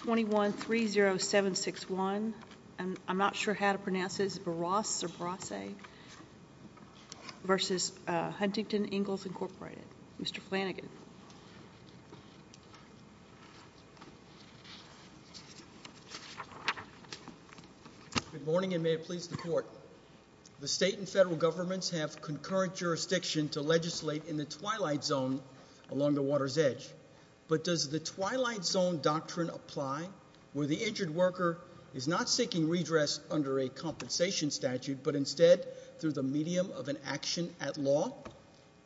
21-30761, and I'm not sure how to pronounce this, Barosse or Brosse v. Huntington Ingalls, Incorporated. Mr. Flanagan. Good morning, and may it please the court. The state and federal governments have concurrent jurisdiction to legislate in the twilight zone along the water's edge. But does the twilight zone doctrine apply where the injured worker is not seeking redress under a compensation statute, but instead through the medium of an action at law?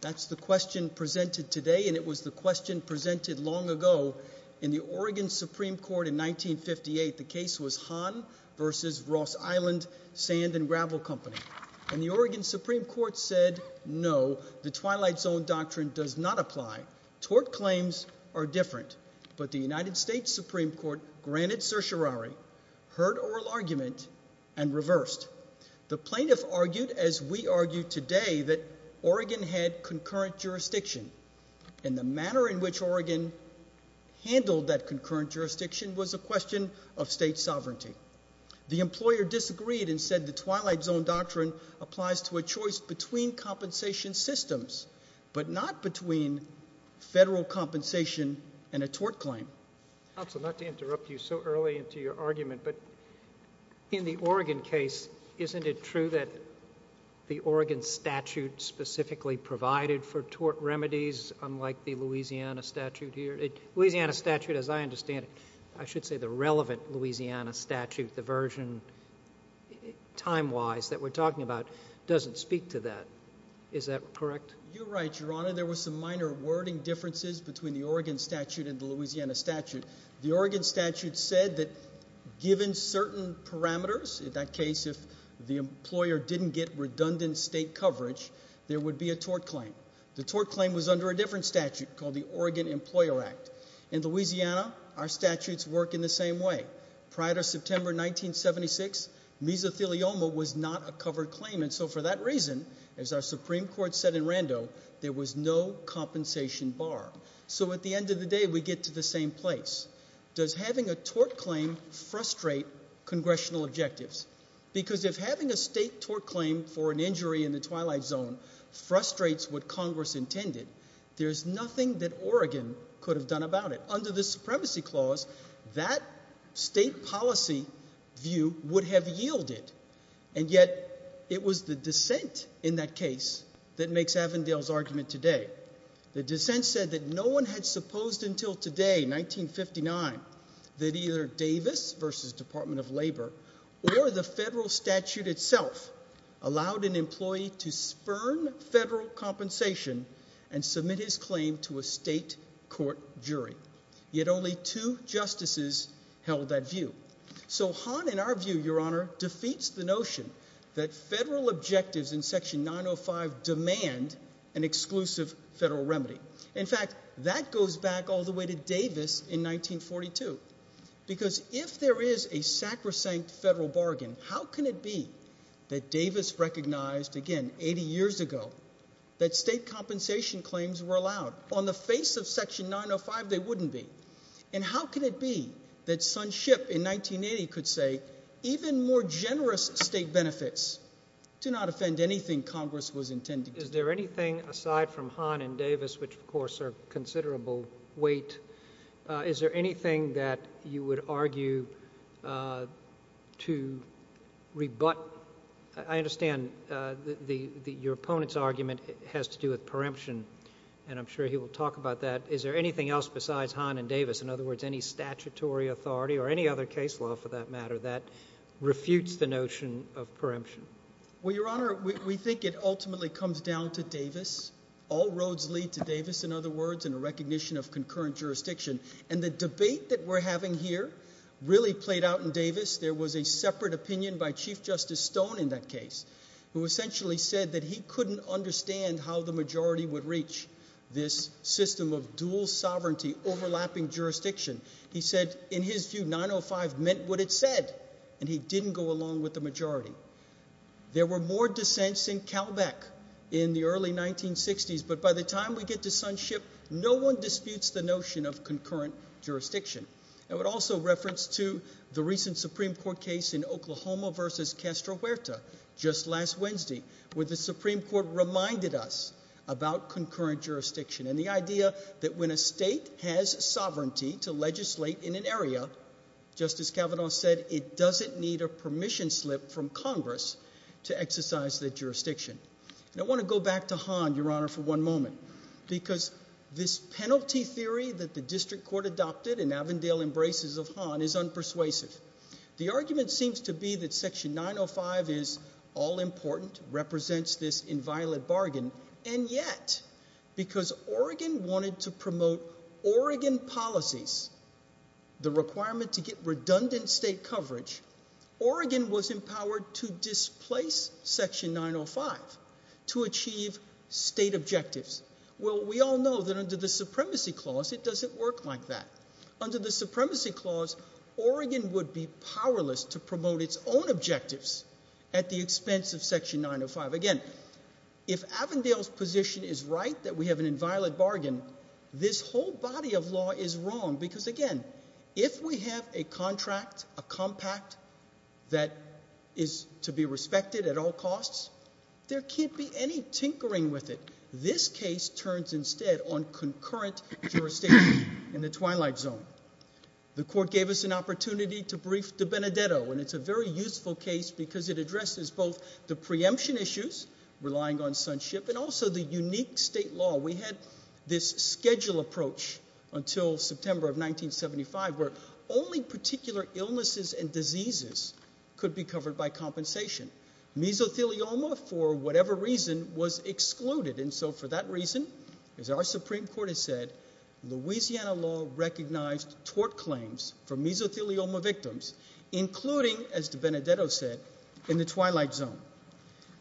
That's the question presented today, and it was the question presented long ago in the Oregon Supreme Court in 1958. The case was Hahn v. Ross Island Sand and Gravel Company. And the Oregon Supreme Court said, no, the twilight zone doctrine does not apply. Tort claims are different, but the United States Supreme Court granted certiorari, heard oral argument, and reversed. The plaintiff argued, as we argue today, that Oregon had concurrent jurisdiction. And the manner in which Oregon handled that concurrent jurisdiction was a question of state sovereignty. The employer disagreed and said the twilight zone doctrine applies to a choice between compensation systems, but not between federal compensation and a tort claim. Counsel, not to interrupt you so early into your argument, but in the Oregon case, isn't it true that the Oregon statute specifically provided for tort remedies, unlike the Louisiana statute here? Louisiana statute, as I understand it, I should say the relevant Louisiana statute, the version time-wise that we're talking about, doesn't speak to that. Is that correct? You're right, Your Honor. There were some minor wording differences between the Oregon statute and the Louisiana statute. The Oregon statute said that given certain parameters, in that case, if the employer didn't get redundant state coverage, there would be a tort claim. The tort claim was under a different statute, called the Oregon Employer Act. In Louisiana, our statutes work in the same way. Prior to September 1976, mesothelioma was not a covered claim. And so for that reason, as our Supreme Court said in Rando, there was no compensation bar. So at the end of the day, we get to the same place. Does having a tort claim frustrate congressional objectives? Because if having a state tort claim for an injury in the Twilight Zone frustrates what Congress intended, there's nothing that Oregon could have done about it. Under the Supremacy Clause, that state policy view would have yielded. And yet, it was the dissent in that case that makes Avondale's argument today. The dissent said that no one had supposed until today, 1959, that either Davis versus Department of Labor or the federal statute itself allowed an employee to spurn federal compensation and submit his claim to a state court jury. Yet only two justices held that view. So Hahn, in our view, Your Honor, defeats the notion that federal objectives in Section 905 demand an exclusive federal remedy. In fact, that goes back all the way to Davis in 1942. Because if there is a sacrosanct federal bargain, how can it be that Davis recognized, again, 80 years ago, that state compensation claims were allowed? On the face of Section 905, they wouldn't be. And how can it be that Sunship, in 1980, could say, even more generous state benefits do not offend anything Congress was intending to do? Is there anything, aside from Hahn and Davis, which, of course, are considerable weight, is there anything that you would argue to rebut? I understand that your opponent's argument has to do with preemption. And I'm sure he will talk about that. Is there anything else besides Hahn and Davis? In other words, any statutory authority or any other case law, for that matter, that refutes the notion of preemption? Well, Your Honor, we think it ultimately comes down to Davis. All roads lead to Davis, in other words, in a recognition of concurrent jurisdiction. And the debate that we're having here really played out in Davis. There was a separate opinion by Chief Justice Stone in that case, who essentially said that he couldn't understand how the majority would reach this system of dual sovereignty, overlapping jurisdiction. He said, in his view, 905 meant what it said. And he didn't go along with the majority. There were more dissents in Calbeck in the early 1960s. But by the time we get to Sonship, no one disputes the notion of concurrent jurisdiction. I would also reference to the recent Supreme Court case in Oklahoma versus Castro Huerta just last Wednesday, where the Supreme Court reminded us about concurrent jurisdiction and the idea that when a state has sovereignty to legislate in an area, Justice Kavanaugh said, it doesn't need a permission slip from Congress to exercise that jurisdiction. And I want to go back to Hahn, Your Honor, for one moment. Because this penalty theory that the district court adopted and Avondale embraces of Hahn is unpersuasive. The argument seems to be that section 905 is all important, represents this inviolate bargain. And yet, because Oregon wanted to promote Oregon policies, the requirement to get redundant state coverage, Oregon was empowered to displace section 905 to achieve state objectives. Well, we all know that under the Supremacy Clause, it doesn't work like that. Under the Supremacy Clause, Oregon would be powerless to promote its own objectives at the expense of section 905. Again, if Avondale's position is right that we have an inviolate bargain, this whole body of law is wrong. Because again, if we have a contract, a compact that is to be respected at all costs, there can't be any tinkering with it. This case turns instead on concurrent jurisdiction in the twilight zone. The court gave us an opportunity to brief de Benedetto. And it's a very useful case because it addresses both the preemption issues, relying on sonship, and also the unique state law. We had this schedule approach until September of 1975, where only particular illnesses and diseases could be covered by compensation. Mesothelioma, for whatever reason, was excluded. And so for that reason, as our Supreme Court has said, Louisiana law recognized tort claims for mesothelioma victims, including, as de Benedetto said, in the twilight zone.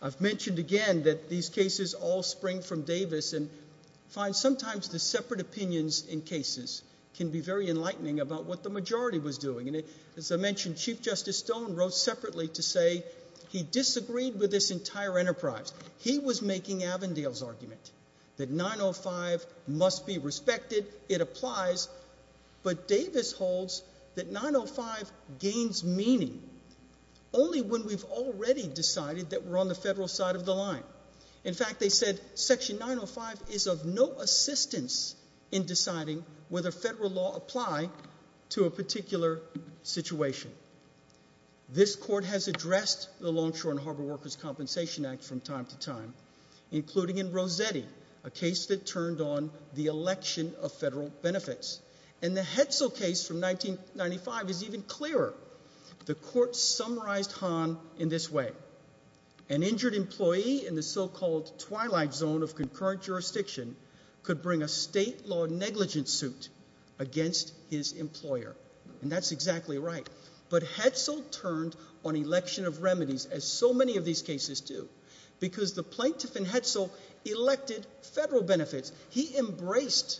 I've mentioned again that these cases all spring from Davis. And sometimes the separate opinions in cases can be very enlightening about what the majority was doing. And as I mentioned, Chief Justice Stone wrote separately to say he disagreed with this entire enterprise. He was making Avondale's argument that 905 must be respected. It applies. But Davis holds that 905 gains meaning only when we've already decided that we're on the federal side of the line. In fact, they said section 905 is of no assistance in deciding whether federal law apply to a particular situation. This court has addressed the Longshore and Harbor Workers Compensation Act from time to time, including in Rossetti, a case that was a federal benefit. And the Hetzel case from 1995 is even clearer. The court summarized Hahn in this way. An injured employee in the so-called twilight zone of concurrent jurisdiction could bring a state law negligence suit against his employer. And that's exactly right. But Hetzel turned on election of remedies, as so many of these cases do, because the plaintiff in Hetzel elected federal benefits. He embraced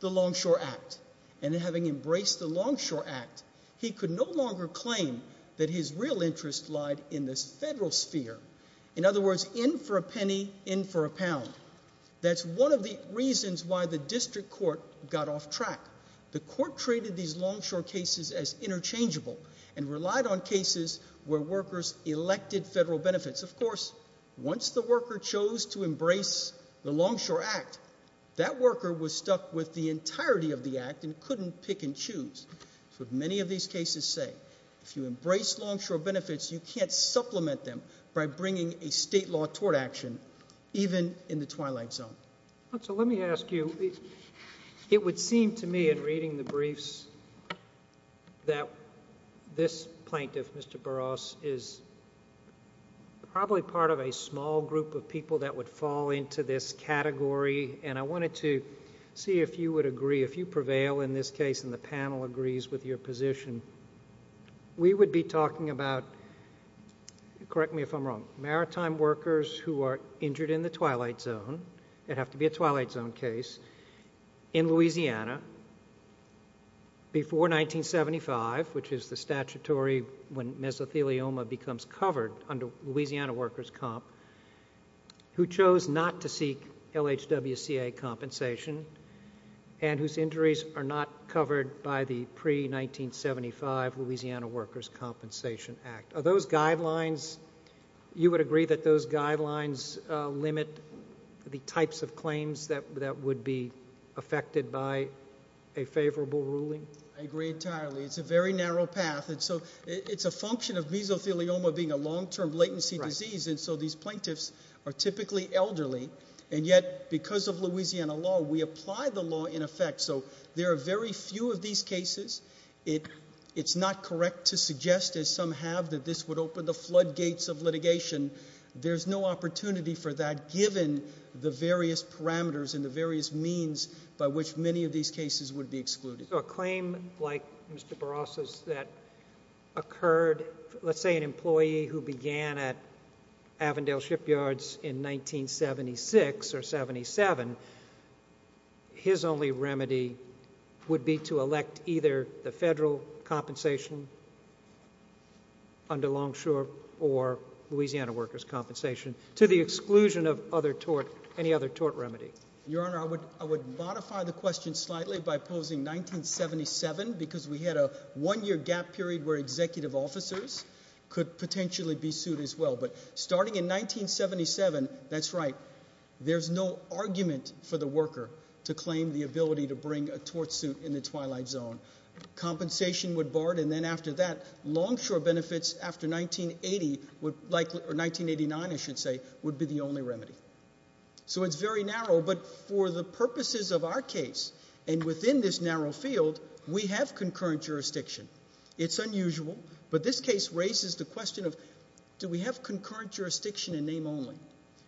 the Longshore Act. And having embraced the Longshore Act, he could no longer claim that his real interest lied in this federal sphere. In other words, in for a penny, in for a pound. That's one of the reasons why the district court got off track. The court treated these Longshore cases as interchangeable and relied on cases where workers elected federal benefits. Of course, once the worker chose to embrace the Longshore Act, that worker was stuck with the entirety of the act and couldn't pick and choose. That's what many of these cases say. If you embrace Longshore benefits, you can't supplement them by bringing a state law tort action, even in the twilight zone. So let me ask you, it would seem to me in reading the briefs that this plaintiff, Mr. Burros, is probably part of a small group of people that would fall into this category. And I wanted to see if you would agree, if you prevail in this case and the panel agrees with your position, we would be talking about, correct me if I'm wrong, maritime workers who are injured in the twilight zone, it'd have to be a twilight zone case, in Louisiana, before 1975, which is the statutory when mesothelioma becomes covered under Louisiana Workers' Comp, who chose not to seek LHWCA compensation, and whose injuries are not covered by the pre-1975 Louisiana Workers' Compensation Act. Are those guidelines, you would agree that those guidelines limit the types of claims that would be affected by a favorable ruling? I agree entirely. It's a very narrow path. And so it's a function of mesothelioma being a long-term latency disease. And so these plaintiffs are typically elderly. And yet, because of Louisiana law, we apply the law in effect. So there are very few of these cases. It's not correct to suggest, as some have, that this would open the floodgates of litigation. There's no opportunity for that, given the various parameters and the various means by which many of these cases would be excluded. So a claim like Mr. Barassa's that occurred, let's say an employee who began at Avondale Shipyards in 1976 or 77, his only remedy would be to elect either the federal compensation under Longshore or Louisiana Workers' Compensation, to the exclusion of other tort, remedy. Your Honor, I would modify the question slightly by posing 1977, because we had a one-year gap period where executive officers could potentially be sued as well. But starting in 1977, that's right. There's no argument for the worker to claim the ability to bring a tort suit in the Twilight Zone. Compensation would barred. And then after that, Longshore benefits after 1980, or 1989, I should say, would be the only remedy. So it's very narrow. But for the purposes of our case and within this narrow field, we have concurrent jurisdiction. It's unusual. But this case raises the question of, do we have concurrent jurisdiction in name only?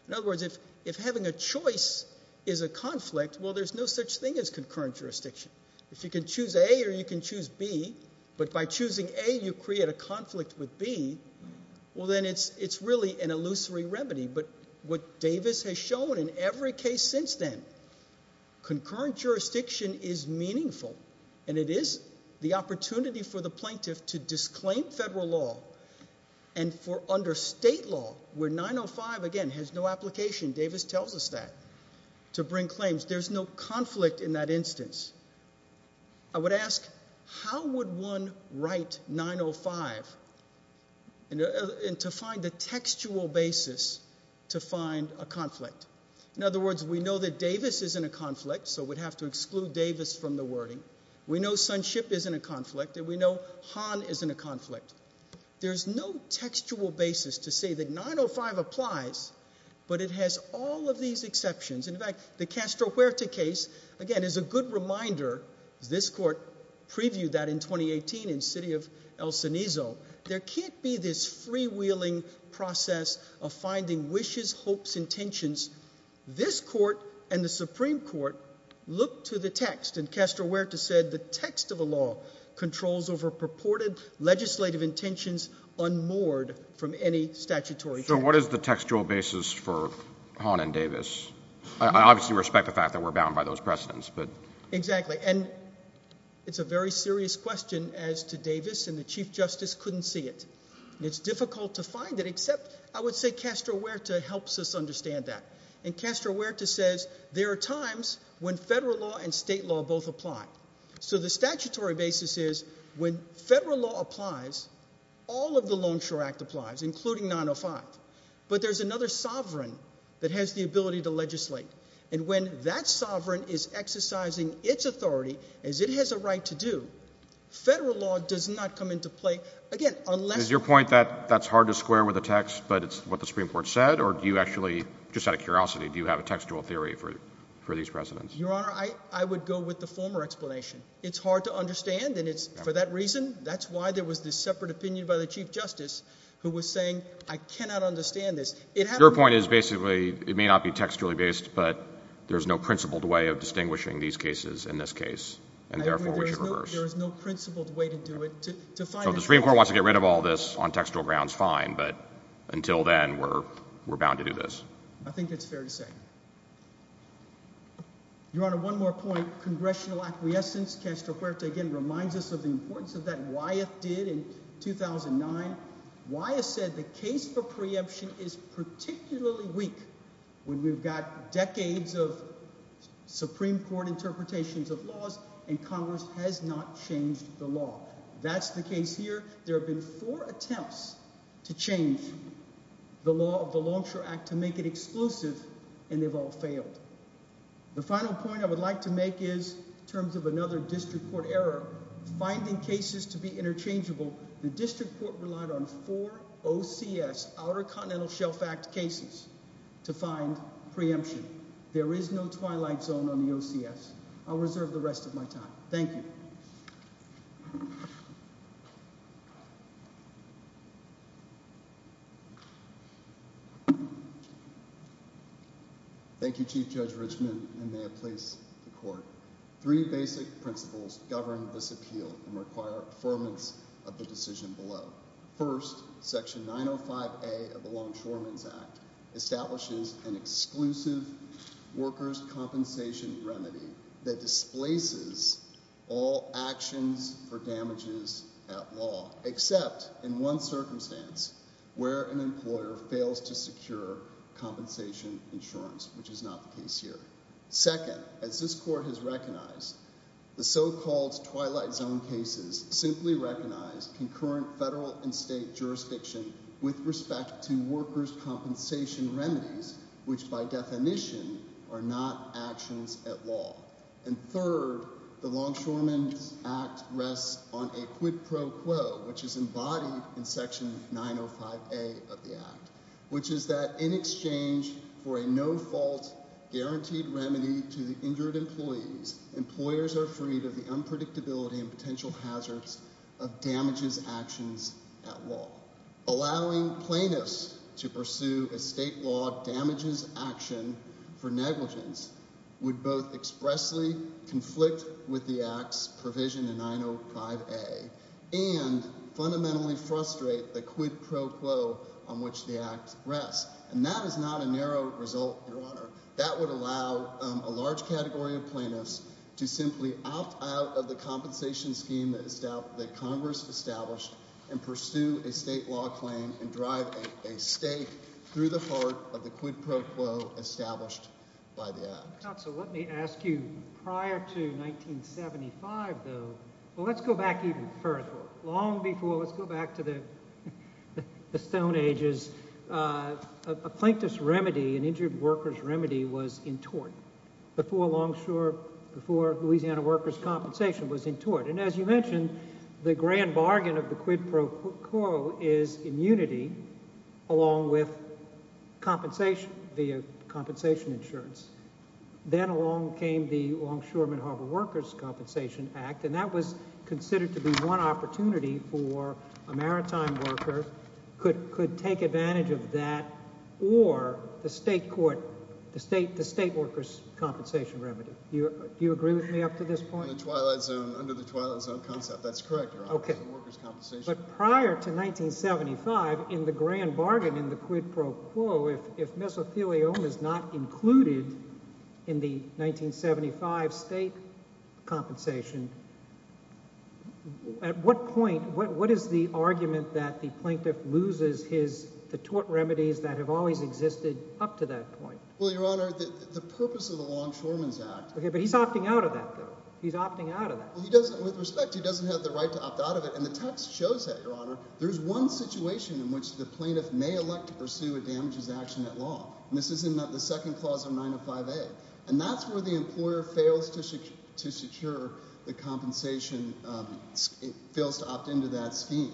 In other words, if having a choice is a conflict, well, there's no such thing as concurrent jurisdiction. If you can choose A or you can choose B, but by choosing A, you create a conflict with B, well, then it's really an illusory remedy. But what Davis has shown in every case since then, concurrent jurisdiction is meaningful. And it is the opportunity for the plaintiff to disclaim federal law and for under state law, where 905, again, has no application, Davis tells us that, to bring claims. There's no conflict in that instance. I would ask, how would one write 905? And to find the textual basis to find a conflict. In other words, we know that Davis is in a conflict, so we'd have to exclude Davis from the wording. We know Sonship is in a conflict, and we know Hahn is in a conflict. There's no textual basis to say that 905 applies, but it has all of these exceptions. In fact, the Castro Huerta case, again, is a good reminder, this court previewed that in 2018 in the city of El Cenizo. There can't be this freewheeling process of finding wishes, hopes, intentions. This court and the Supreme Court looked to the text, and Castro Huerta said, the text of the law controls over purported legislative intentions unmoored from any statutory text. So what is the textual basis for Hahn and Davis? I obviously respect the fact that we're bound by those precedents, but. Exactly, and it's a very serious question as to Davis, and the Chief Justice couldn't see it. It's difficult to find it, except, I would say, Castro Huerta helps us understand that. And Castro Huerta says, there are times when federal law and state law both apply. So the statutory basis is, when federal law applies, all of the Longshore Act applies, including 905. But there's another sovereign that has the ability to legislate. And when that sovereign is exercising its authority, as it has a right to do, federal law does not come into play. Again, unless. Is your point that that's hard to square with the text, but it's what the Supreme Court said? Or do you actually, just out of curiosity, do you have a textual theory for these precedents? Your Honor, I would go with the former explanation. It's hard to understand, and it's for that reason. That's why there was this separate opinion by the Chief Justice, who was saying, I cannot understand this. Your point is basically, it may not be textually based, but there's no principled way of distinguishing these cases in this case, and therefore, we should reverse. There is no principled way to do it. So if the Supreme Court wants to get rid of all this on textual grounds, fine. But until then, we're bound to do this. I think it's fair to say. Your Honor, one more point. Congressional acquiescence. Castro Huerta, again, reminds us of the importance of that Wyeth did in 2009. Wyeth said the case for preemption is particularly weak when we've got decades of Supreme Court interpretations of laws, and Congress has not changed the law. That's the case here. There have been four attempts to change the law of the Longshore Act to make it exclusive, and they've all failed. The final point I would like to make is in terms of another district court error, finding cases to be interchangeable. The district court relied on four OCS, Outer Continental Shelf Act cases to find preemption. There is no twilight zone on the OCS. I'll reserve the rest of my time. Thank you. Thank you, Chief Judge Richmond, and may it please the court. Three basic principles govern this appeal and require affirmance of the decision below. First, Section 905A of the Longshoremen's Act establishes an exclusive workers' compensation remedy that displaces all actions for damages at law, except in one circumstance, where an employer fails to secure compensation insurance, which is not the case here. Second, as this court has recognized, the so-called twilight zone cases simply recognize concurrent federal and state jurisdiction with respect to workers' compensation remedies, which by definition are not actions at law. And third, the Longshoremen's Act rests on a quid pro quo, which is embodied in Section 905A of the Act, which is that in exchange for a no-fault guaranteed remedy to the injured employees, employers are freed of the unpredictability and potential hazards of damages actions at law. Allowing plaintiffs to pursue a state law damages action for negligence would both expressly conflict with the Act's provision in 905A and fundamentally frustrate the quid pro quo on which the Act rests. And that is not a narrow result, Your Honor. That would allow a large category of plaintiffs to simply opt out of the compensation scheme that Congress established and pursue a state law claim and drive a stake through the heart of the quid pro quo established by the Act. Counsel, let me ask you, prior to 1975, though, well, let's go back even further. Long before, let's go back to the Stone Ages, was in tort. Before Longshore, before Louisiana workers' compensation was in tort. And as you mentioned, the grand bargain of the quid pro quo is immunity along with compensation via compensation insurance. Then along came the Longshoreman Harbor Workers' Compensation Act, and that was considered to be one opportunity for a maritime worker could take advantage of that or the state workers' compensation remedy. Do you agree with me up to this point? Under the Twilight Zone concept, that's correct, Your Honor. Okay. The workers' compensation. But prior to 1975, in the grand bargain in the quid pro quo, if mesothelioma is not included in the 1975 state compensation, at what point, what is the argument that the plaintiff loses the tort remedies that have always existed up to that point? Well, Your Honor, the purpose of the Longshoreman's Act. Okay, but he's opting out of that, though. He's opting out of that. He doesn't, with respect, he doesn't have the right to opt out of it. And the text shows that, Your Honor. There's one situation in which the plaintiff may elect to pursue a damages action at law. And this is in the second clause of 905A. And that's where the employer fails to secure the compensation, fails to opt into that scheme.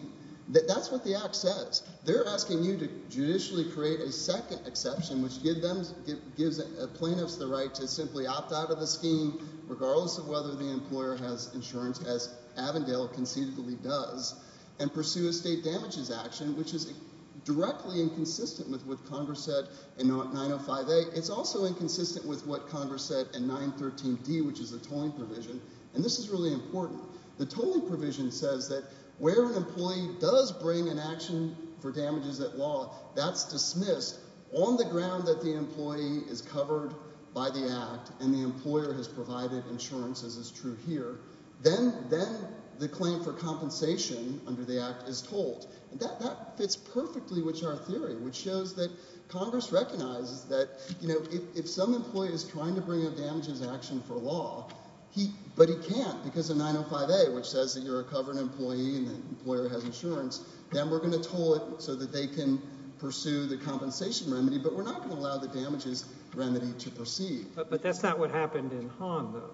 That's what the act says. They're asking you to judicially create a second exception, which gives plaintiffs the right to simply opt out of the scheme, regardless of whether the employer has insurance, as Avondale conceivably does, and pursue a state damages action, which is directly inconsistent with what Congress said in 905A. It's also inconsistent with what Congress said in 913D, which is a tolling provision. And this is really important. The tolling provision says that where an employee does bring an action for damages at law, that's dismissed. On the ground that the employee is covered by the act, and the employer has provided insurance, as is true here, then the claim for compensation under the act is told. And that fits perfectly with your theory, which shows that Congress recognizes that if some employee is trying to bring a damages action for law, but he can't because of 905A, which says that you're a covered employee, and the employer has insurance, then we're gonna toll it so that they can pursue the compensation remedy, but we're not gonna allow the damages remedy to proceed. But that's not what happened in Hahn, though.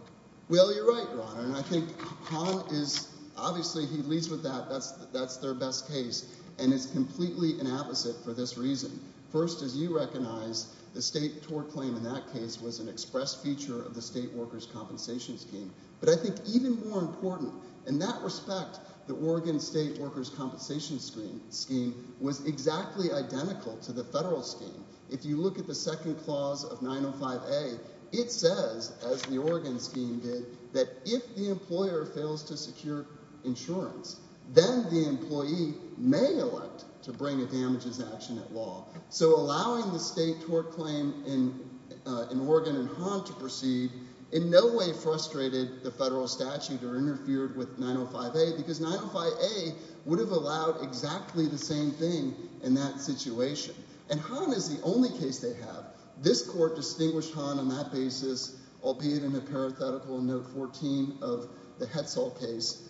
Well, you're right, Your Honor. And I think Hahn is, obviously, he leads with that. That's their best case. And it's completely an opposite for this reason. First, as you recognize, the state tort claim in that case was an express feature of the state workers' compensation scheme. But I think even more important, in that respect, the Oregon State Workers' Compensation Scheme was exactly identical to the federal scheme. If you look at the second clause of 905A, it says, as the Oregon scheme did, that if the employer fails to secure insurance, then the employee may elect to bring a damages action at law. So allowing the state tort claim in Oregon and Hahn to proceed in no way frustrated the federal statute or interfered with 905A, because 905A would have allowed exactly the same thing in that situation. And Hahn is the only case they have. This court distinguished Hahn on that basis, albeit in a parenthetical in note 14 of the Hetzel case.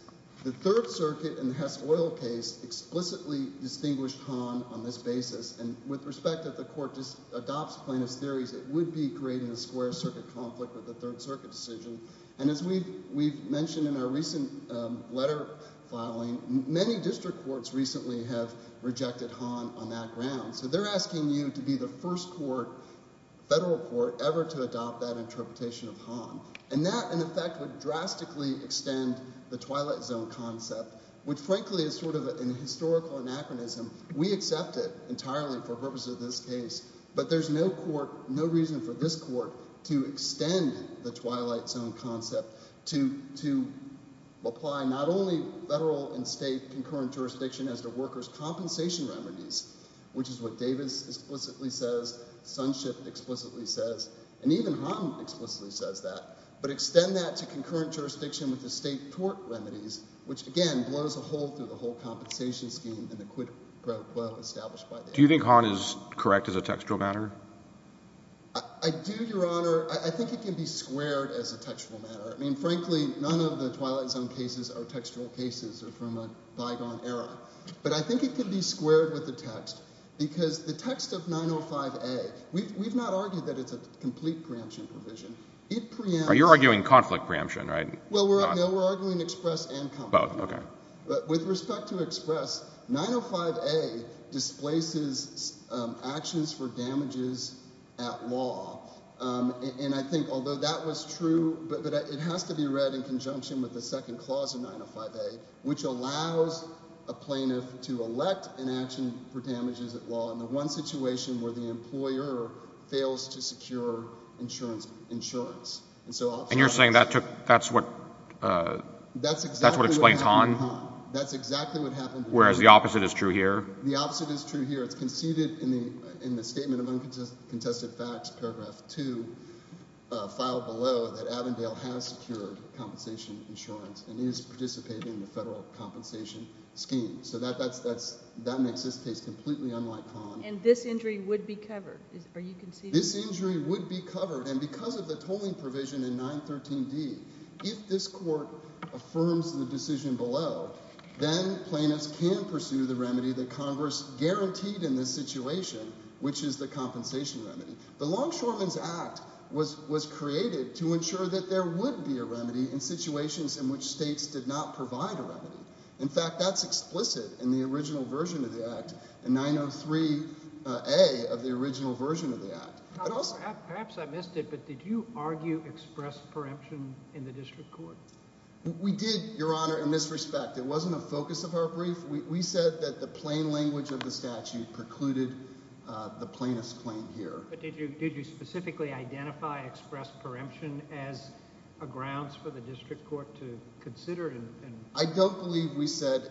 The Third Circuit in the Hess Oil case explicitly distinguished Hahn on this basis. And with respect that the court just adopts plaintiff's theories, it would be creating a square circuit conflict with the Third Circuit decision. And as we've mentioned in our recent letter filing, many district courts recently have rejected Hahn on that ground. So they're asking you to be the first court, federal court ever to adopt that interpretation of Hahn. And that in effect would drastically extend the Twilight Zone concept, which frankly is sort of an historical anachronism. We accept it entirely for purpose of this case, but there's no court, no reason for this court to extend the Twilight Zone concept to apply not only federal and state concurrent jurisdiction as to workers' compensation remedies, which is what Davis explicitly says, Sunshift explicitly says, and even Hahn explicitly says that, but extend that to concurrent jurisdiction with the state tort remedies, which again, blows a hole through the whole compensation scheme and the quid pro quo established by the- Do you think Hahn is correct as a textual matter? I do, Your Honor. I think it can be squared as a textual matter. I mean, frankly, none of the Twilight Zone cases are textual cases or from a bygone era, but I think it can be squared with the text because the text of 905A, we've not argued that it's a complete preemption provision. It preempts- You're arguing conflict preemption, right? Well, we're arguing express and conflict. Oh, okay. With respect to express, 905A displaces actions for damages at law. And I think, although that was true, but it has to be read in conjunction with the second clause of 905A, which allows a plaintiff to elect an action for damages at law in the one situation where the employer fails to secure insurance. And you're saying that's what explains Hahn? That's exactly what happened- Whereas the opposite is true here? The opposite is true here. It's conceded in the statement of uncontested facts, paragraph two, filed below, that Avondale has secured compensation insurance and is participating in the federal compensation scheme. So that makes this case completely unlike Hahn. And this injury would be covered. Are you conceding? This injury would be covered. And because of the tolling provision in 913D, if this court affirms the decision below, then plaintiffs can pursue the remedy that Congress guaranteed in this situation, which is the compensation remedy. The Longshoreman's Act was created to ensure that there would be a remedy in situations in which states did not provide a remedy. In fact, that's explicit in the original version of the act, in 903A of the original version of the act. Perhaps I missed it, but did you argue express preemption in the district court? We did, Your Honor, in this respect. It wasn't a focus of our brief. We said that the plain language of the statute precluded the plaintiff's claim here. But did you specifically identify express preemption as a grounds for the district court to consider? I don't believe we said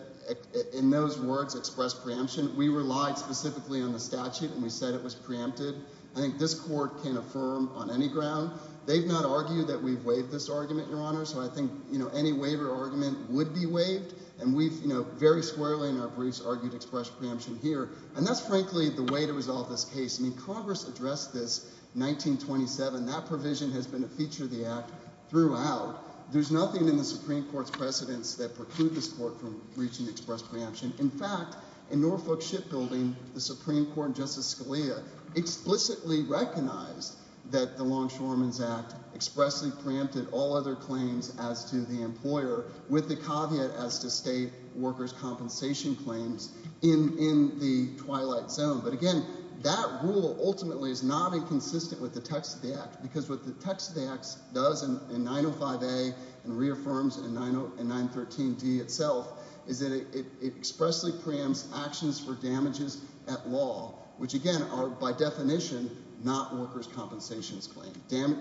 in those words express preemption. We relied specifically on the statute and we said it was preempted. I think this court can affirm on any ground. They've not argued that we've waived this argument, so I think any waiver argument would be waived. And we've very squarely in our briefs argued express preemption here. And that's frankly the way to resolve this case. I mean, Congress addressed this in 1927. That provision has been a feature of the act throughout. There's nothing in the Supreme Court's precedents that preclude this court from reaching express preemption. In fact, in Norfolk Shipbuilding, the Supreme Court and Justice Scalia explicitly recognized that the Longshoreman's Act expressly preempted all other claims as to the employer with the caveat as to state workers' compensation claims in the Twilight Zone. But again, that rule ultimately is not inconsistent with the text of the act, because what the text of the act does in 905A and reaffirms in 913D itself is that it expressly preempts actions for damages at law, which again are by definition not workers' compensations claims.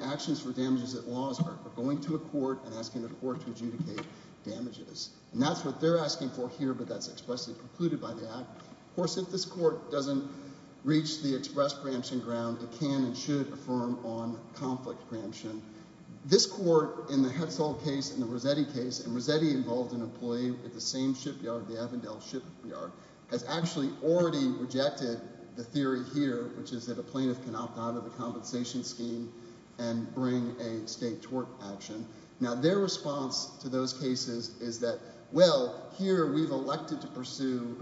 Actions for damages at laws are going to a court and asking the court to adjudicate damages. And that's what they're asking for here, but that's expressly precluded by the act. Of course, if this court doesn't reach the express preemption ground, it can and should affirm on conflict preemption. This court in the Hetzel case and the Rossetti case, and Rossetti involved an employee at the same shipyard, the Avondale shipyard, has actually already rejected the theory here, which is that a plaintiff can opt out of the compensation scheme and bring a state tort action. Now, their response to those cases is that, well, here we've elected to pursue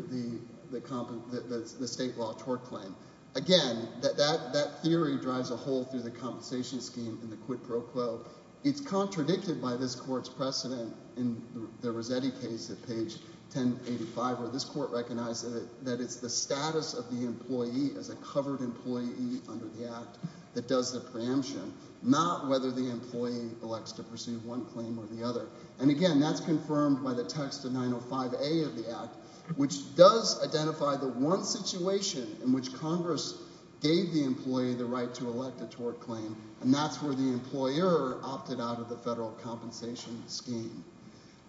the state law tort claim. Again, that theory drives a hole through the compensation scheme and the quid pro quo. It's contradicted by this court's precedent in the Rossetti case at page 1085, where this court recognized that it's the status of the employee as a covered employee under the act that does the preemption, not whether the employee elects to pursue one claim or the other. And again, that's confirmed by the text of 905A of the act, which does identify the one situation in which Congress gave the employee the right to elect a tort claim, and that's where the employer opted out of the federal compensation scheme.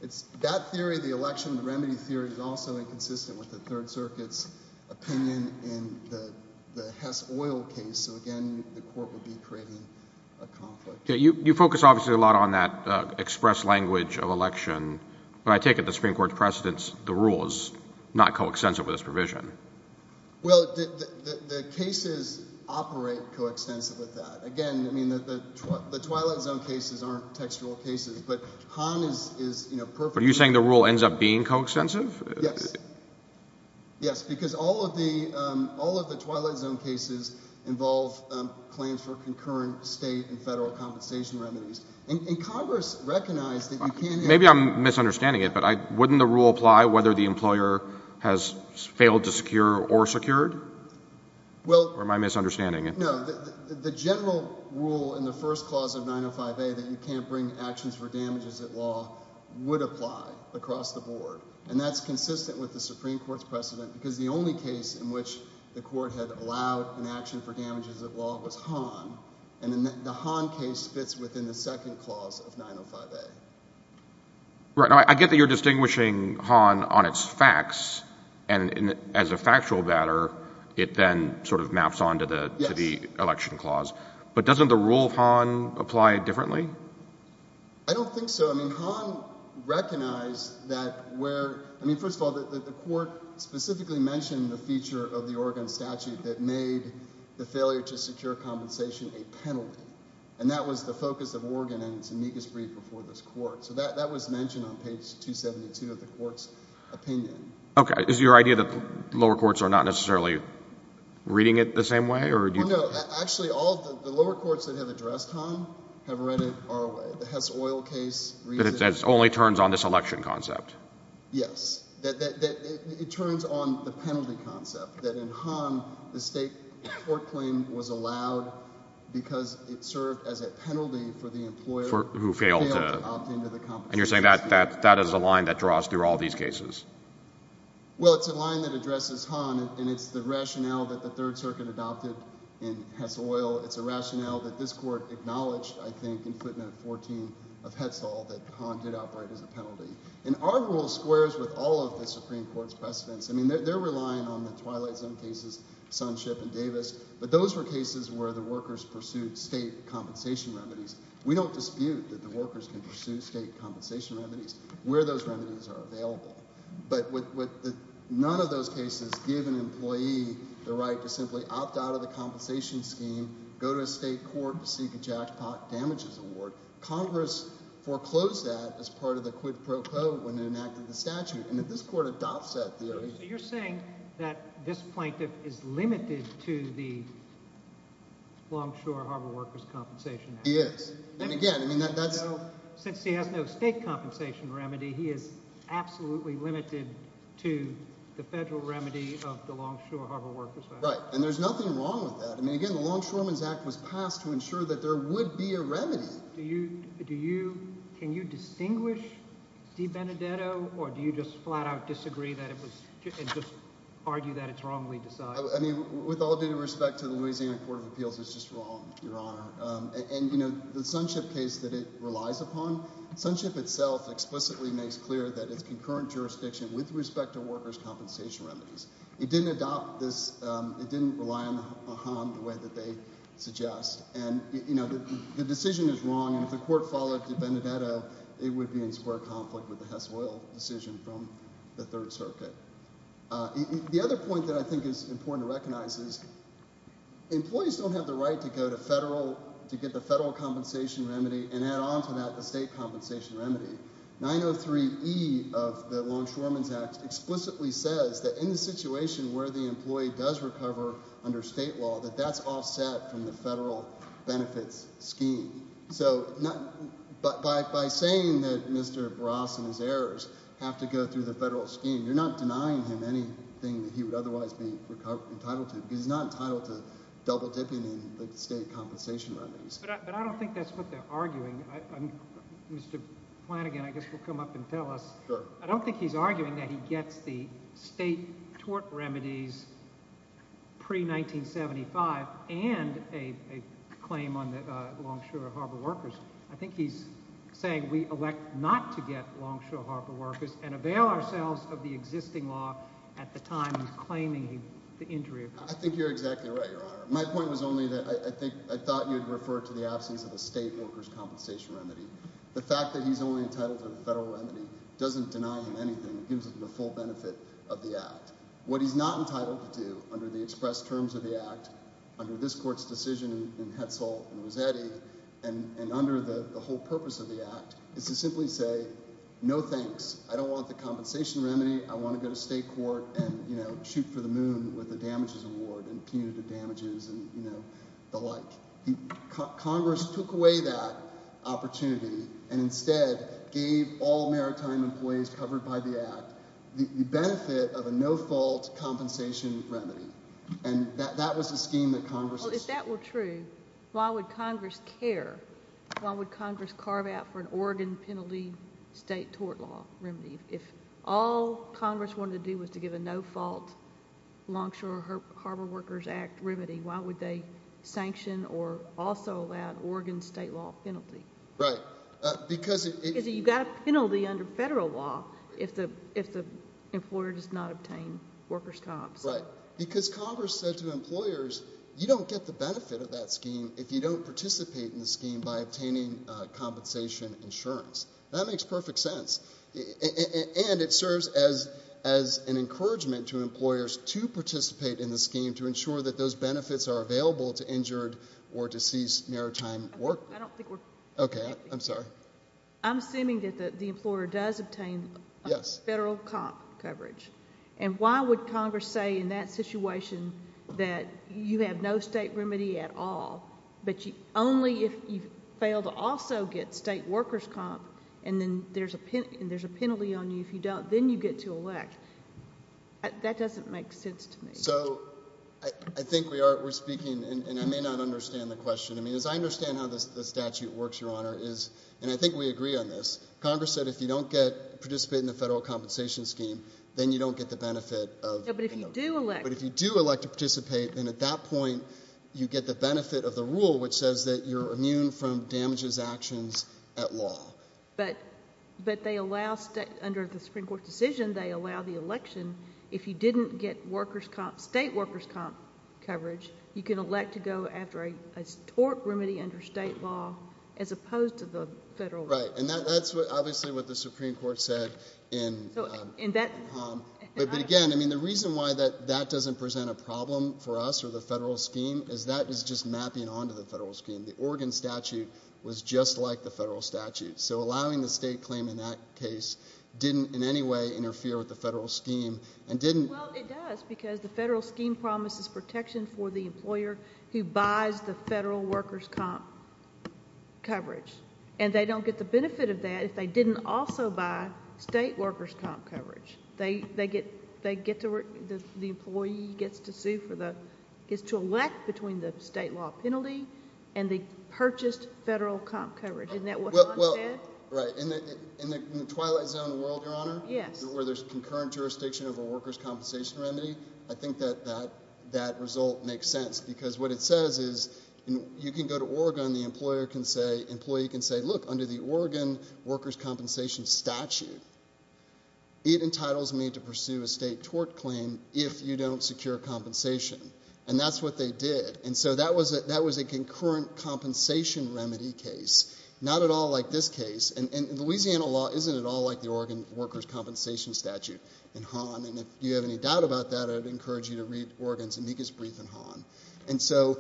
It's that theory of the election, the remedy theory is also inconsistent with the Third Circuit's opinion in the Hess Oil case. So again, the court would be creating a conflict. Yeah, you focus obviously a lot on that express language of election, but I take it the Supreme Court's precedence, the rule is not coextensive with this provision. Well, the cases operate coextensive with that. Again, I mean, the Twilight Zone cases aren't textual cases, but Han is perfectly- Are you saying the rule ends up being coextensive? Yes, yes, because all of the Twilight Zone cases involve claims for concurrent state and federal compensation remedies. And Congress recognized that you can't- Maybe I'm misunderstanding it, but wouldn't the rule apply whether the employer has failed to secure or secured? Or am I misunderstanding it? No, the general rule in the first clause of 905A that you can't bring actions for damages at law would apply across the board. And that's consistent with the Supreme Court's precedent because the only case in which the court had allowed an action for damages at law was Han. And the Han case fits within the second clause of 905A. Right, I get that you're distinguishing Han on its facts, and as a factual matter, it then sort of maps onto the election clause. But doesn't the rule of Han apply differently? I don't think so. I mean, Han recognized that where, I mean, first of all, the court specifically mentioned the feature of the Oregon statute that made the failure to secure compensation a penalty. And that was the focus of Oregon and its amicus brief before this court. So that was mentioned on page 272 of the court's opinion. Okay, is your idea that lower courts are not necessarily reading it the same way? Or do you think- No, actually, all the lower courts that have addressed Han have read it our way. The Hess Oil case- That it only turns on this election concept? Yes, it turns on the penalty concept, that in Han, the state court claim was allowed because it served as a penalty for the employer- Who failed to- Failed to opt into the compensation- And you're saying that is the line that draws through all these cases? Well, it's a line that addresses Han, and it's the rationale that the Third Circuit adopted in Hess Oil. It's a rationale that this court acknowledged, I think, in footnote 14 of Hess Oil that Han did operate as a penalty. And our rule squares with all of the Supreme Court's precedents. I mean, they're relying on the Twilight Zone cases, Sonship and Davis, but those were cases where the workers pursued state compensation remedies. We don't dispute that the workers can pursue state compensation remedies where those remedies are available. But none of those cases give an employee the right to simply opt out of the compensation scheme, go to a state court to seek a jackpot damages award. Congress foreclosed that as part of the quid pro quo when it enacted the statute. And if this court adopts that theory- So you're saying that this plaintiff is limited to the Longshore Harbor Workers' Compensation Act? He is. And again, I mean, that's- Since he has no state compensation remedy, he is absolutely limited to the federal remedy of the Longshore Harbor Workers' Compensation Act. Right, and there's nothing wrong with that. I mean, again, the Longshoremen's Act was passed to ensure that there would be a remedy. Do you, can you distinguish Steve Benedetto or do you just flat out disagree that it was, just argue that it's wrongly decided? I mean, with all due respect to the Louisiana Court of Appeals, it's just wrong, Your Honor. And, you know, the Sonship case that it relies upon, Sonship itself explicitly makes clear that it's concurrent jurisdiction with respect to workers' compensation remedies. It didn't adopt this, it didn't rely on the HAM the way that they suggest. And, you know, the decision is wrong. And if the court followed to Benedetto, it would be in square conflict with the Hess Oil decision from the Third Circuit. The other point that I think is important to recognize is employees don't have the right to go to federal, to get the federal compensation remedy and add on to that the state compensation remedy. 903E of the Longshoremen's Act explicitly says that in the situation where the employee does recover under state law, that that's offset from the federal benefits scheme. So by saying that Mr. Bross and his heirs have to go through the federal scheme, you're not denying him anything that he would otherwise be entitled to, because he's not entitled to double-dipping in the state compensation remedies. But I don't think that's what they're arguing. Mr. Flanagan, I guess, will come up and tell us. I don't think he's arguing that he gets the state tort remedies pre-1975 and a claim on the Longshore Harbor workers. I think he's saying we elect not to get Longshore Harbor workers and avail ourselves of the existing law at the time of claiming the injury. I think you're exactly right, Your Honor. My point was only that I thought you'd refer to the absence of the state workers' compensation remedy. The fact that he's only entitled to the federal remedy doesn't deny him anything. It gives him the full benefit of the act. What he's not entitled to do under the express terms of the act, under this court's decision in Hetzel and Rossetti, and under the whole purpose of the act, is to simply say, no thanks. I don't want the compensation remedy. I wanna go to state court and shoot for the moon with a damages award and punitive damages and the like. Congress took away that opportunity and instead gave all maritime employees covered by the act the benefit of a no-fault compensation remedy. And that was the scheme that Congress- Well, if that were true, why would Congress care? Why would Congress carve out for an Oregon penalty state tort law remedy? If all Congress wanted to do was to give a no-fault Longshore Harbor Workers Act remedy, why would they sanction or also allow an Oregon state law penalty? Right, because- Is it you got a penalty under federal law if the employer does not obtain workers' comps? Right, because Congress said to employers, you don't get the benefit of that scheme if you don't participate in the scheme by obtaining compensation insurance. That makes perfect sense. And it serves as an encouragement to employers to participate in the scheme to ensure that those benefits are available to injured or deceased maritime workers. Okay, I'm sorry. I'm assuming that the employer does obtain federal comp coverage. And why would Congress say in that situation that you have no state remedy at all, but only if you fail to also get state workers' comp and then there's a penalty on you if you don't, then you get to elect. That doesn't make sense to me. So I think we're speaking, and I may not understand the question. I mean, as I understand how the statute works, Your Honor, is, and I think we agree on this, Congress said if you don't get, participate in the federal compensation scheme, then you don't get the benefit of- No, but if you do elect- But if you do elect to participate, then at that point, you get the benefit of the rule which says that you're immune from damages, actions at law. But they allow, under the Supreme Court decision, they allow the election. If you didn't get workers' comp, state workers' comp coverage, you can elect to go after a tort remedy under state law as opposed to the federal- Right, and that's obviously what the Supreme Court said in- So, and that- But again, I mean, the reason why that doesn't present a problem for us or the federal scheme is that is just mapping onto the federal scheme. The Oregon statute was just like the federal statute. So allowing the state claim in that case didn't in any way interfere with the federal scheme and didn't- Well, it does because the federal scheme promises protection for the employer who buys the federal workers' comp coverage. And they don't get the benefit of that if they didn't also buy state workers' comp coverage. They get to work, the employee gets to sue for the, gets to elect between the state law penalty and the purchased federal comp coverage. Isn't that what Ron said? Right, in the Twilight Zone world, Your Honor, where there's concurrent jurisdiction over workers' compensation remedy, I think that that result makes sense because what it says is, you can go to Oregon, the employee can say, look, under the Oregon workers' compensation statute, it entitles me to pursue a state tort claim if you don't secure compensation. And that's what they did. And so that was a concurrent compensation remedy case, not at all like this case. And Louisiana law isn't at all like the Oregon workers' compensation statute in Hahn. And if you have any doubt about that, I'd encourage you to read Oregon's amicus brief in Hahn. And so,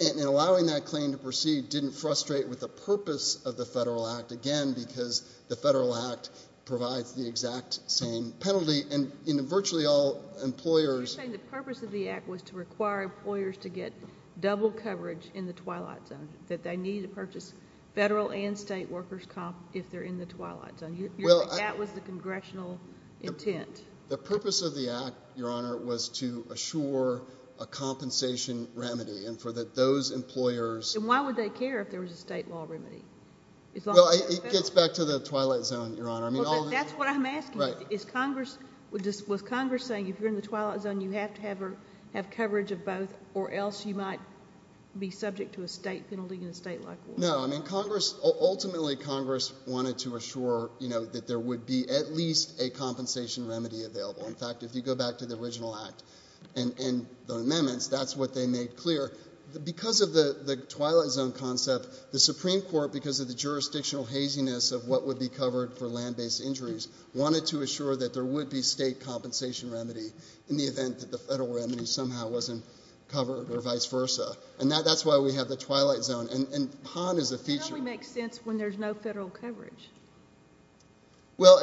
and allowing that claim to proceed didn't frustrate with the purpose of the federal act, again, because the federal act provides the exact same penalty and in virtually all employers. You're saying the purpose of the act was to require employers to get double coverage in the Twilight Zone, that they need to purchase federal and state workers' comp if they're in the Twilight Zone. Well, I- That was the congressional intent. The purpose of the act, Your Honor, was to assure a compensation remedy and for those employers- And why would they care if there was a state law remedy? It's all- Well, it gets back to the Twilight Zone, Your Honor. I mean, all- That's what I'm asking. Is Congress, was Congress saying, if you're in the Twilight Zone, you have to have coverage of both or else you might be subject to a state penalty in a state like- No, I mean, Congress, ultimately Congress wanted to assure that there would be at least a compensation remedy available. In fact, if you go back to the original act and the amendments, that's what they made clear. Because of the Twilight Zone concept, the Supreme Court, because of the jurisdictional haziness of what would be covered for land-based injuries, wanted to assure that there would be state compensation remedy in the event that the federal remedy somehow wasn't covered or vice versa. And that's why we have the Twilight Zone. And PON is a feature- When there's no federal coverage. Well,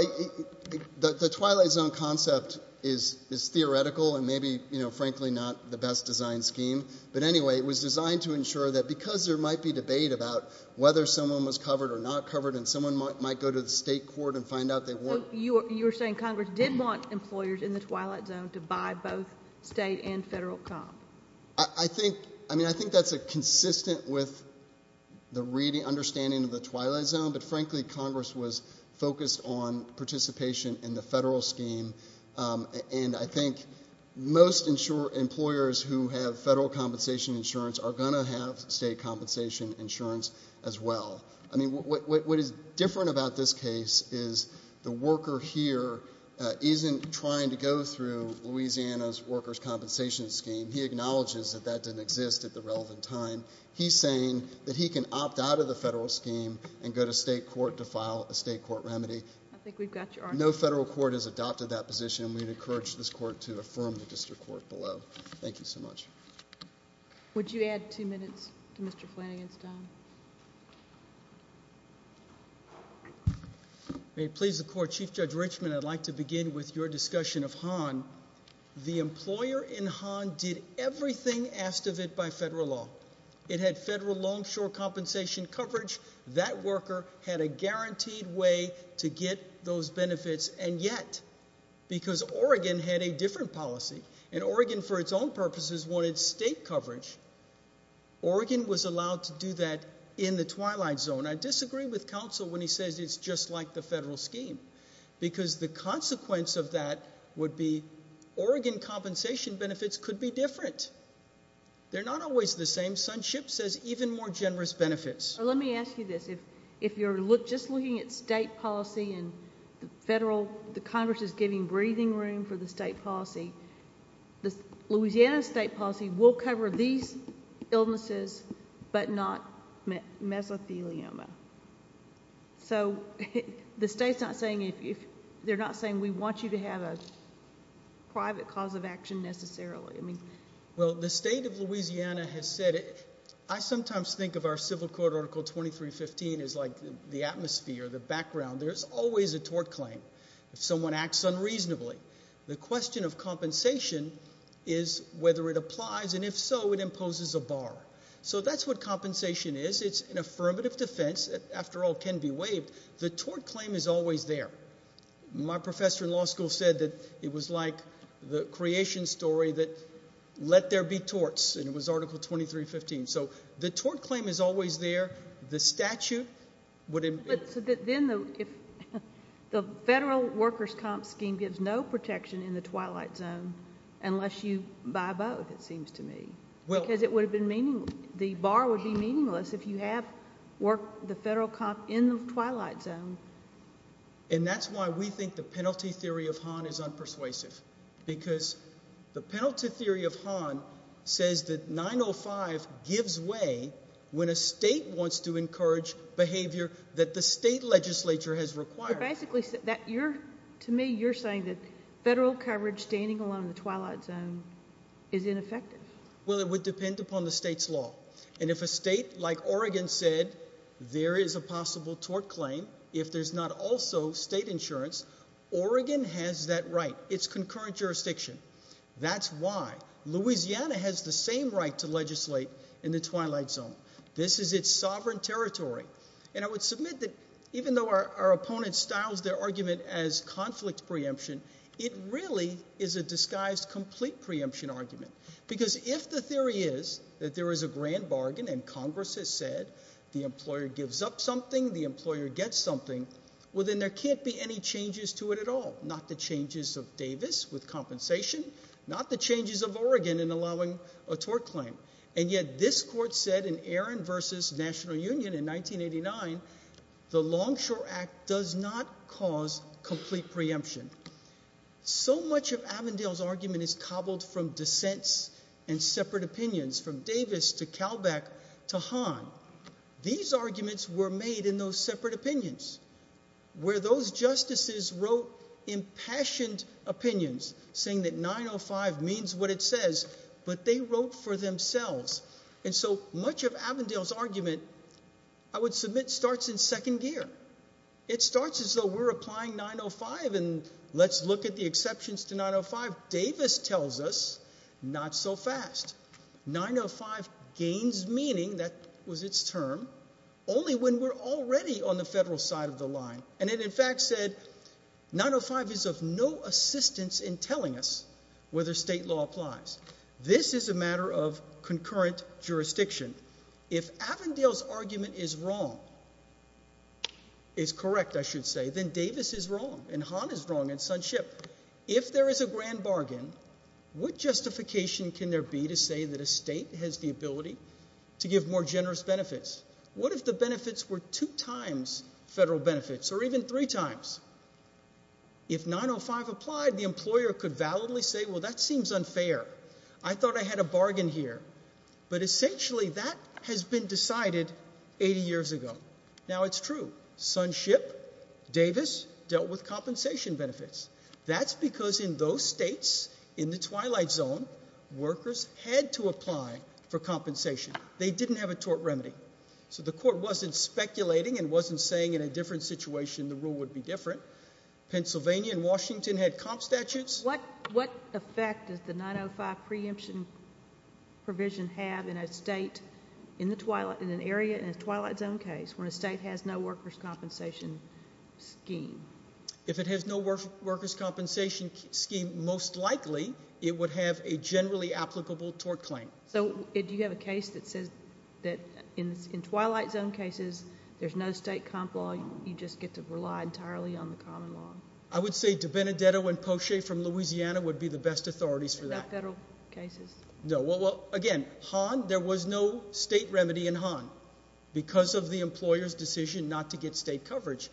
the Twilight Zone concept is theoretical and maybe, you know, frankly, not the best design scheme. But anyway, it was designed to ensure that because there might be debate about whether someone was covered or not covered and someone might go to the state court and find out they weren't- You're saying Congress did want employers in the Twilight Zone to buy both state and federal comp? I think, I mean, I think that's a consistent with the understanding of the Twilight Zone. But frankly, Congress was focused on participation in the federal scheme. And I think most employers who have federal compensation insurance are gonna have state compensation insurance as well. I mean, what is different about this case is the worker here isn't trying to go through Louisiana's workers' compensation scheme. He acknowledges that that didn't exist at the relevant time. He's saying that he can opt out of the federal scheme and go to state court to file a state court remedy. I think we've got your- No federal court has adopted that position. We'd encourage this court to affirm the district court below. Thank you so much. Would you add two minutes to Mr. Flanagan's time? May it please the court. Chief Judge Richmond, I'd like to begin with your discussion of Hahn. The employer in Hahn did everything asked of it by federal law. It had federal loan short compensation coverage. That worker had a guaranteed way to get those benefits. And yet, because Oregon had a different policy, and Oregon for its own purposes wanted state coverage, Oregon was allowed to do that in the Twilight Zone. I disagree with counsel when he says it's just like the federal scheme. Because the consequence of that would be Oregon compensation benefits could be different. They're not always the same. Sunship says even more generous benefits. Let me ask you this. If you're just looking at state policy and the federal, the Congress is giving breathing room for the state policy, the Louisiana state policy will cover these illnesses, but not mesothelioma. So the state's not saying, they're not saying we want you to have a private cause of action necessarily. Well, the state of Louisiana has said, I sometimes think of our civil court article 2315 as like the atmosphere, the background. There's always a tort claim if someone acts unreasonably. The question of compensation is whether it applies, and if so, it imposes a bar. So that's what compensation is. It's an affirmative defense. After all, it can be waived. The tort claim is always there. My professor in law school said that it was like the creation story that let there be torts, and it was article 2315. So the tort claim is always there. The statute would... But then if the federal workers' comp scheme gives no protection in the twilight zone, unless you buy both, it seems to me. Well... Because it would have been meaningless. The bar would be meaningless if you have the federal comp in the twilight zone. And that's why we think the penalty theory of Hahn is unpersuasive, because the penalty theory of Hahn says that 905 gives way when a state wants to encourage behavior that the state legislature has required. But basically, to me, you're saying that federal coverage standing alone in the twilight zone is ineffective. Well, it would depend upon the state's law. And if a state like Oregon said there is a possible tort claim, if there's not also state insurance, Oregon has that right. But it's concurrent jurisdiction. That's why Louisiana has the same right to legislate in the twilight zone. This is its sovereign territory. And I would submit that even though our opponent styles their argument as conflict preemption, it really is a disguised complete preemption argument. Because if the theory is that there is a grand bargain and Congress has said the employer gives up something, the employer gets something, well then there can't be any changes to it at all. Not the changes of Davis with compensation, not the changes of Oregon in allowing a tort claim. And yet this court said in Aaron versus National Union in 1989, the Longshore Act does not cause complete preemption. So much of Avondale's argument is cobbled from dissents and separate opinions from Davis to Calbeck to Hahn. These arguments were made in those separate opinions where those justices wrote impassioned opinions saying that 905 means what it says, but they wrote for themselves. And so much of Avondale's argument, I would submit starts in second gear. It starts as though we're applying 905 and let's look at the exceptions to 905. Davis tells us, not so fast. 905 gains meaning, that was its term, only when we're already on the federal side of the line. And it in fact said, 905 is of no assistance in telling us whether state law applies. This is a matter of concurrent jurisdiction. If Avondale's argument is wrong, is correct I should say, then Davis is wrong and Hahn is wrong and Sunship. If there is a grand bargain, what justification can there be to say that a state has the ability to give more generous benefits? What if the benefits were two times federal benefits or even three times? If 905 applied, the employer could validly say, well, that seems unfair. I thought I had a bargain here, but essentially that has been decided 80 years ago. Now it's true, Sunship, Davis dealt with compensation benefits. That's because in those states, in the twilight zone, workers had to apply for compensation. They didn't have a tort remedy. So the court wasn't speculating and wasn't saying in a different situation the rule would be different. Pennsylvania and Washington had comp statutes. What effect does the 905 preemption provision have in a state, in an area, in a twilight zone case when a state has no workers' compensation scheme? If it has no workers' compensation scheme, most likely it would have a generally applicable tort claim. So do you have a case that says that in twilight zone cases, there's no state comp law, you just get to rely entirely on the common law? I would say DiBenedetto and Poche from Louisiana would be the best authorities for that. No federal cases? No, well, again, Han, there was no state remedy in Han because of the employer's decision not to get state coverage.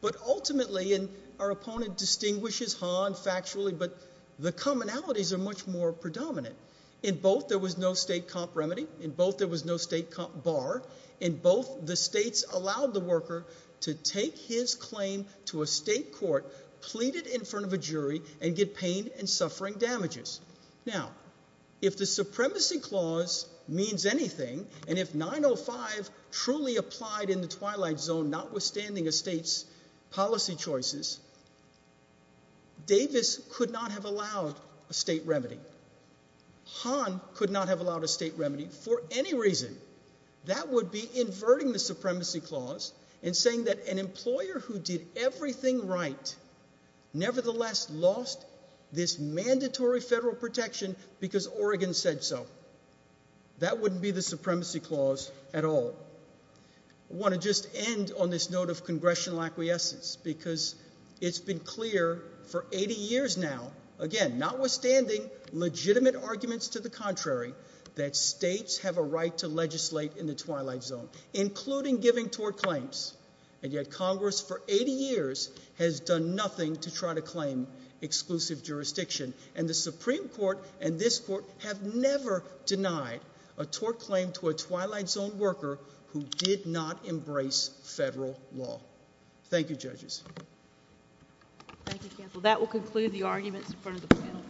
But ultimately, and our opponent distinguishes Han factually, but the commonalities are much more predominant. In both, there was no state comp remedy. In both, there was no state comp bar. In both, the states allowed the worker to take his claim to a state court, plead it in front of a jury, and get pain and suffering damages. Now, if the supremacy clause means anything, and if 905 truly applied in the twilight zone, notwithstanding a state's policy choices, Davis could not have allowed a state remedy. Han could not have allowed a state remedy for any reason. That would be inverting the supremacy clause and saying that an employer who did everything right nevertheless lost this mandatory federal protection because Oregon said so. That wouldn't be the supremacy clause at all. I wanna just end on this note of congressional acquiescence because it's been clear for 80 years now, again, notwithstanding legitimate arguments to the contrary, that states have a right to legislate in the twilight zone, including giving tort claims. And yet Congress, for 80 years, has done nothing to try to claim exclusive jurisdiction. And the Supreme Court and this court have never denied a tort claim to a twilight zone worker who did not embrace federal law. Thank you, judges. Thank you, counsel. That will conclude the arguments in front of the panel.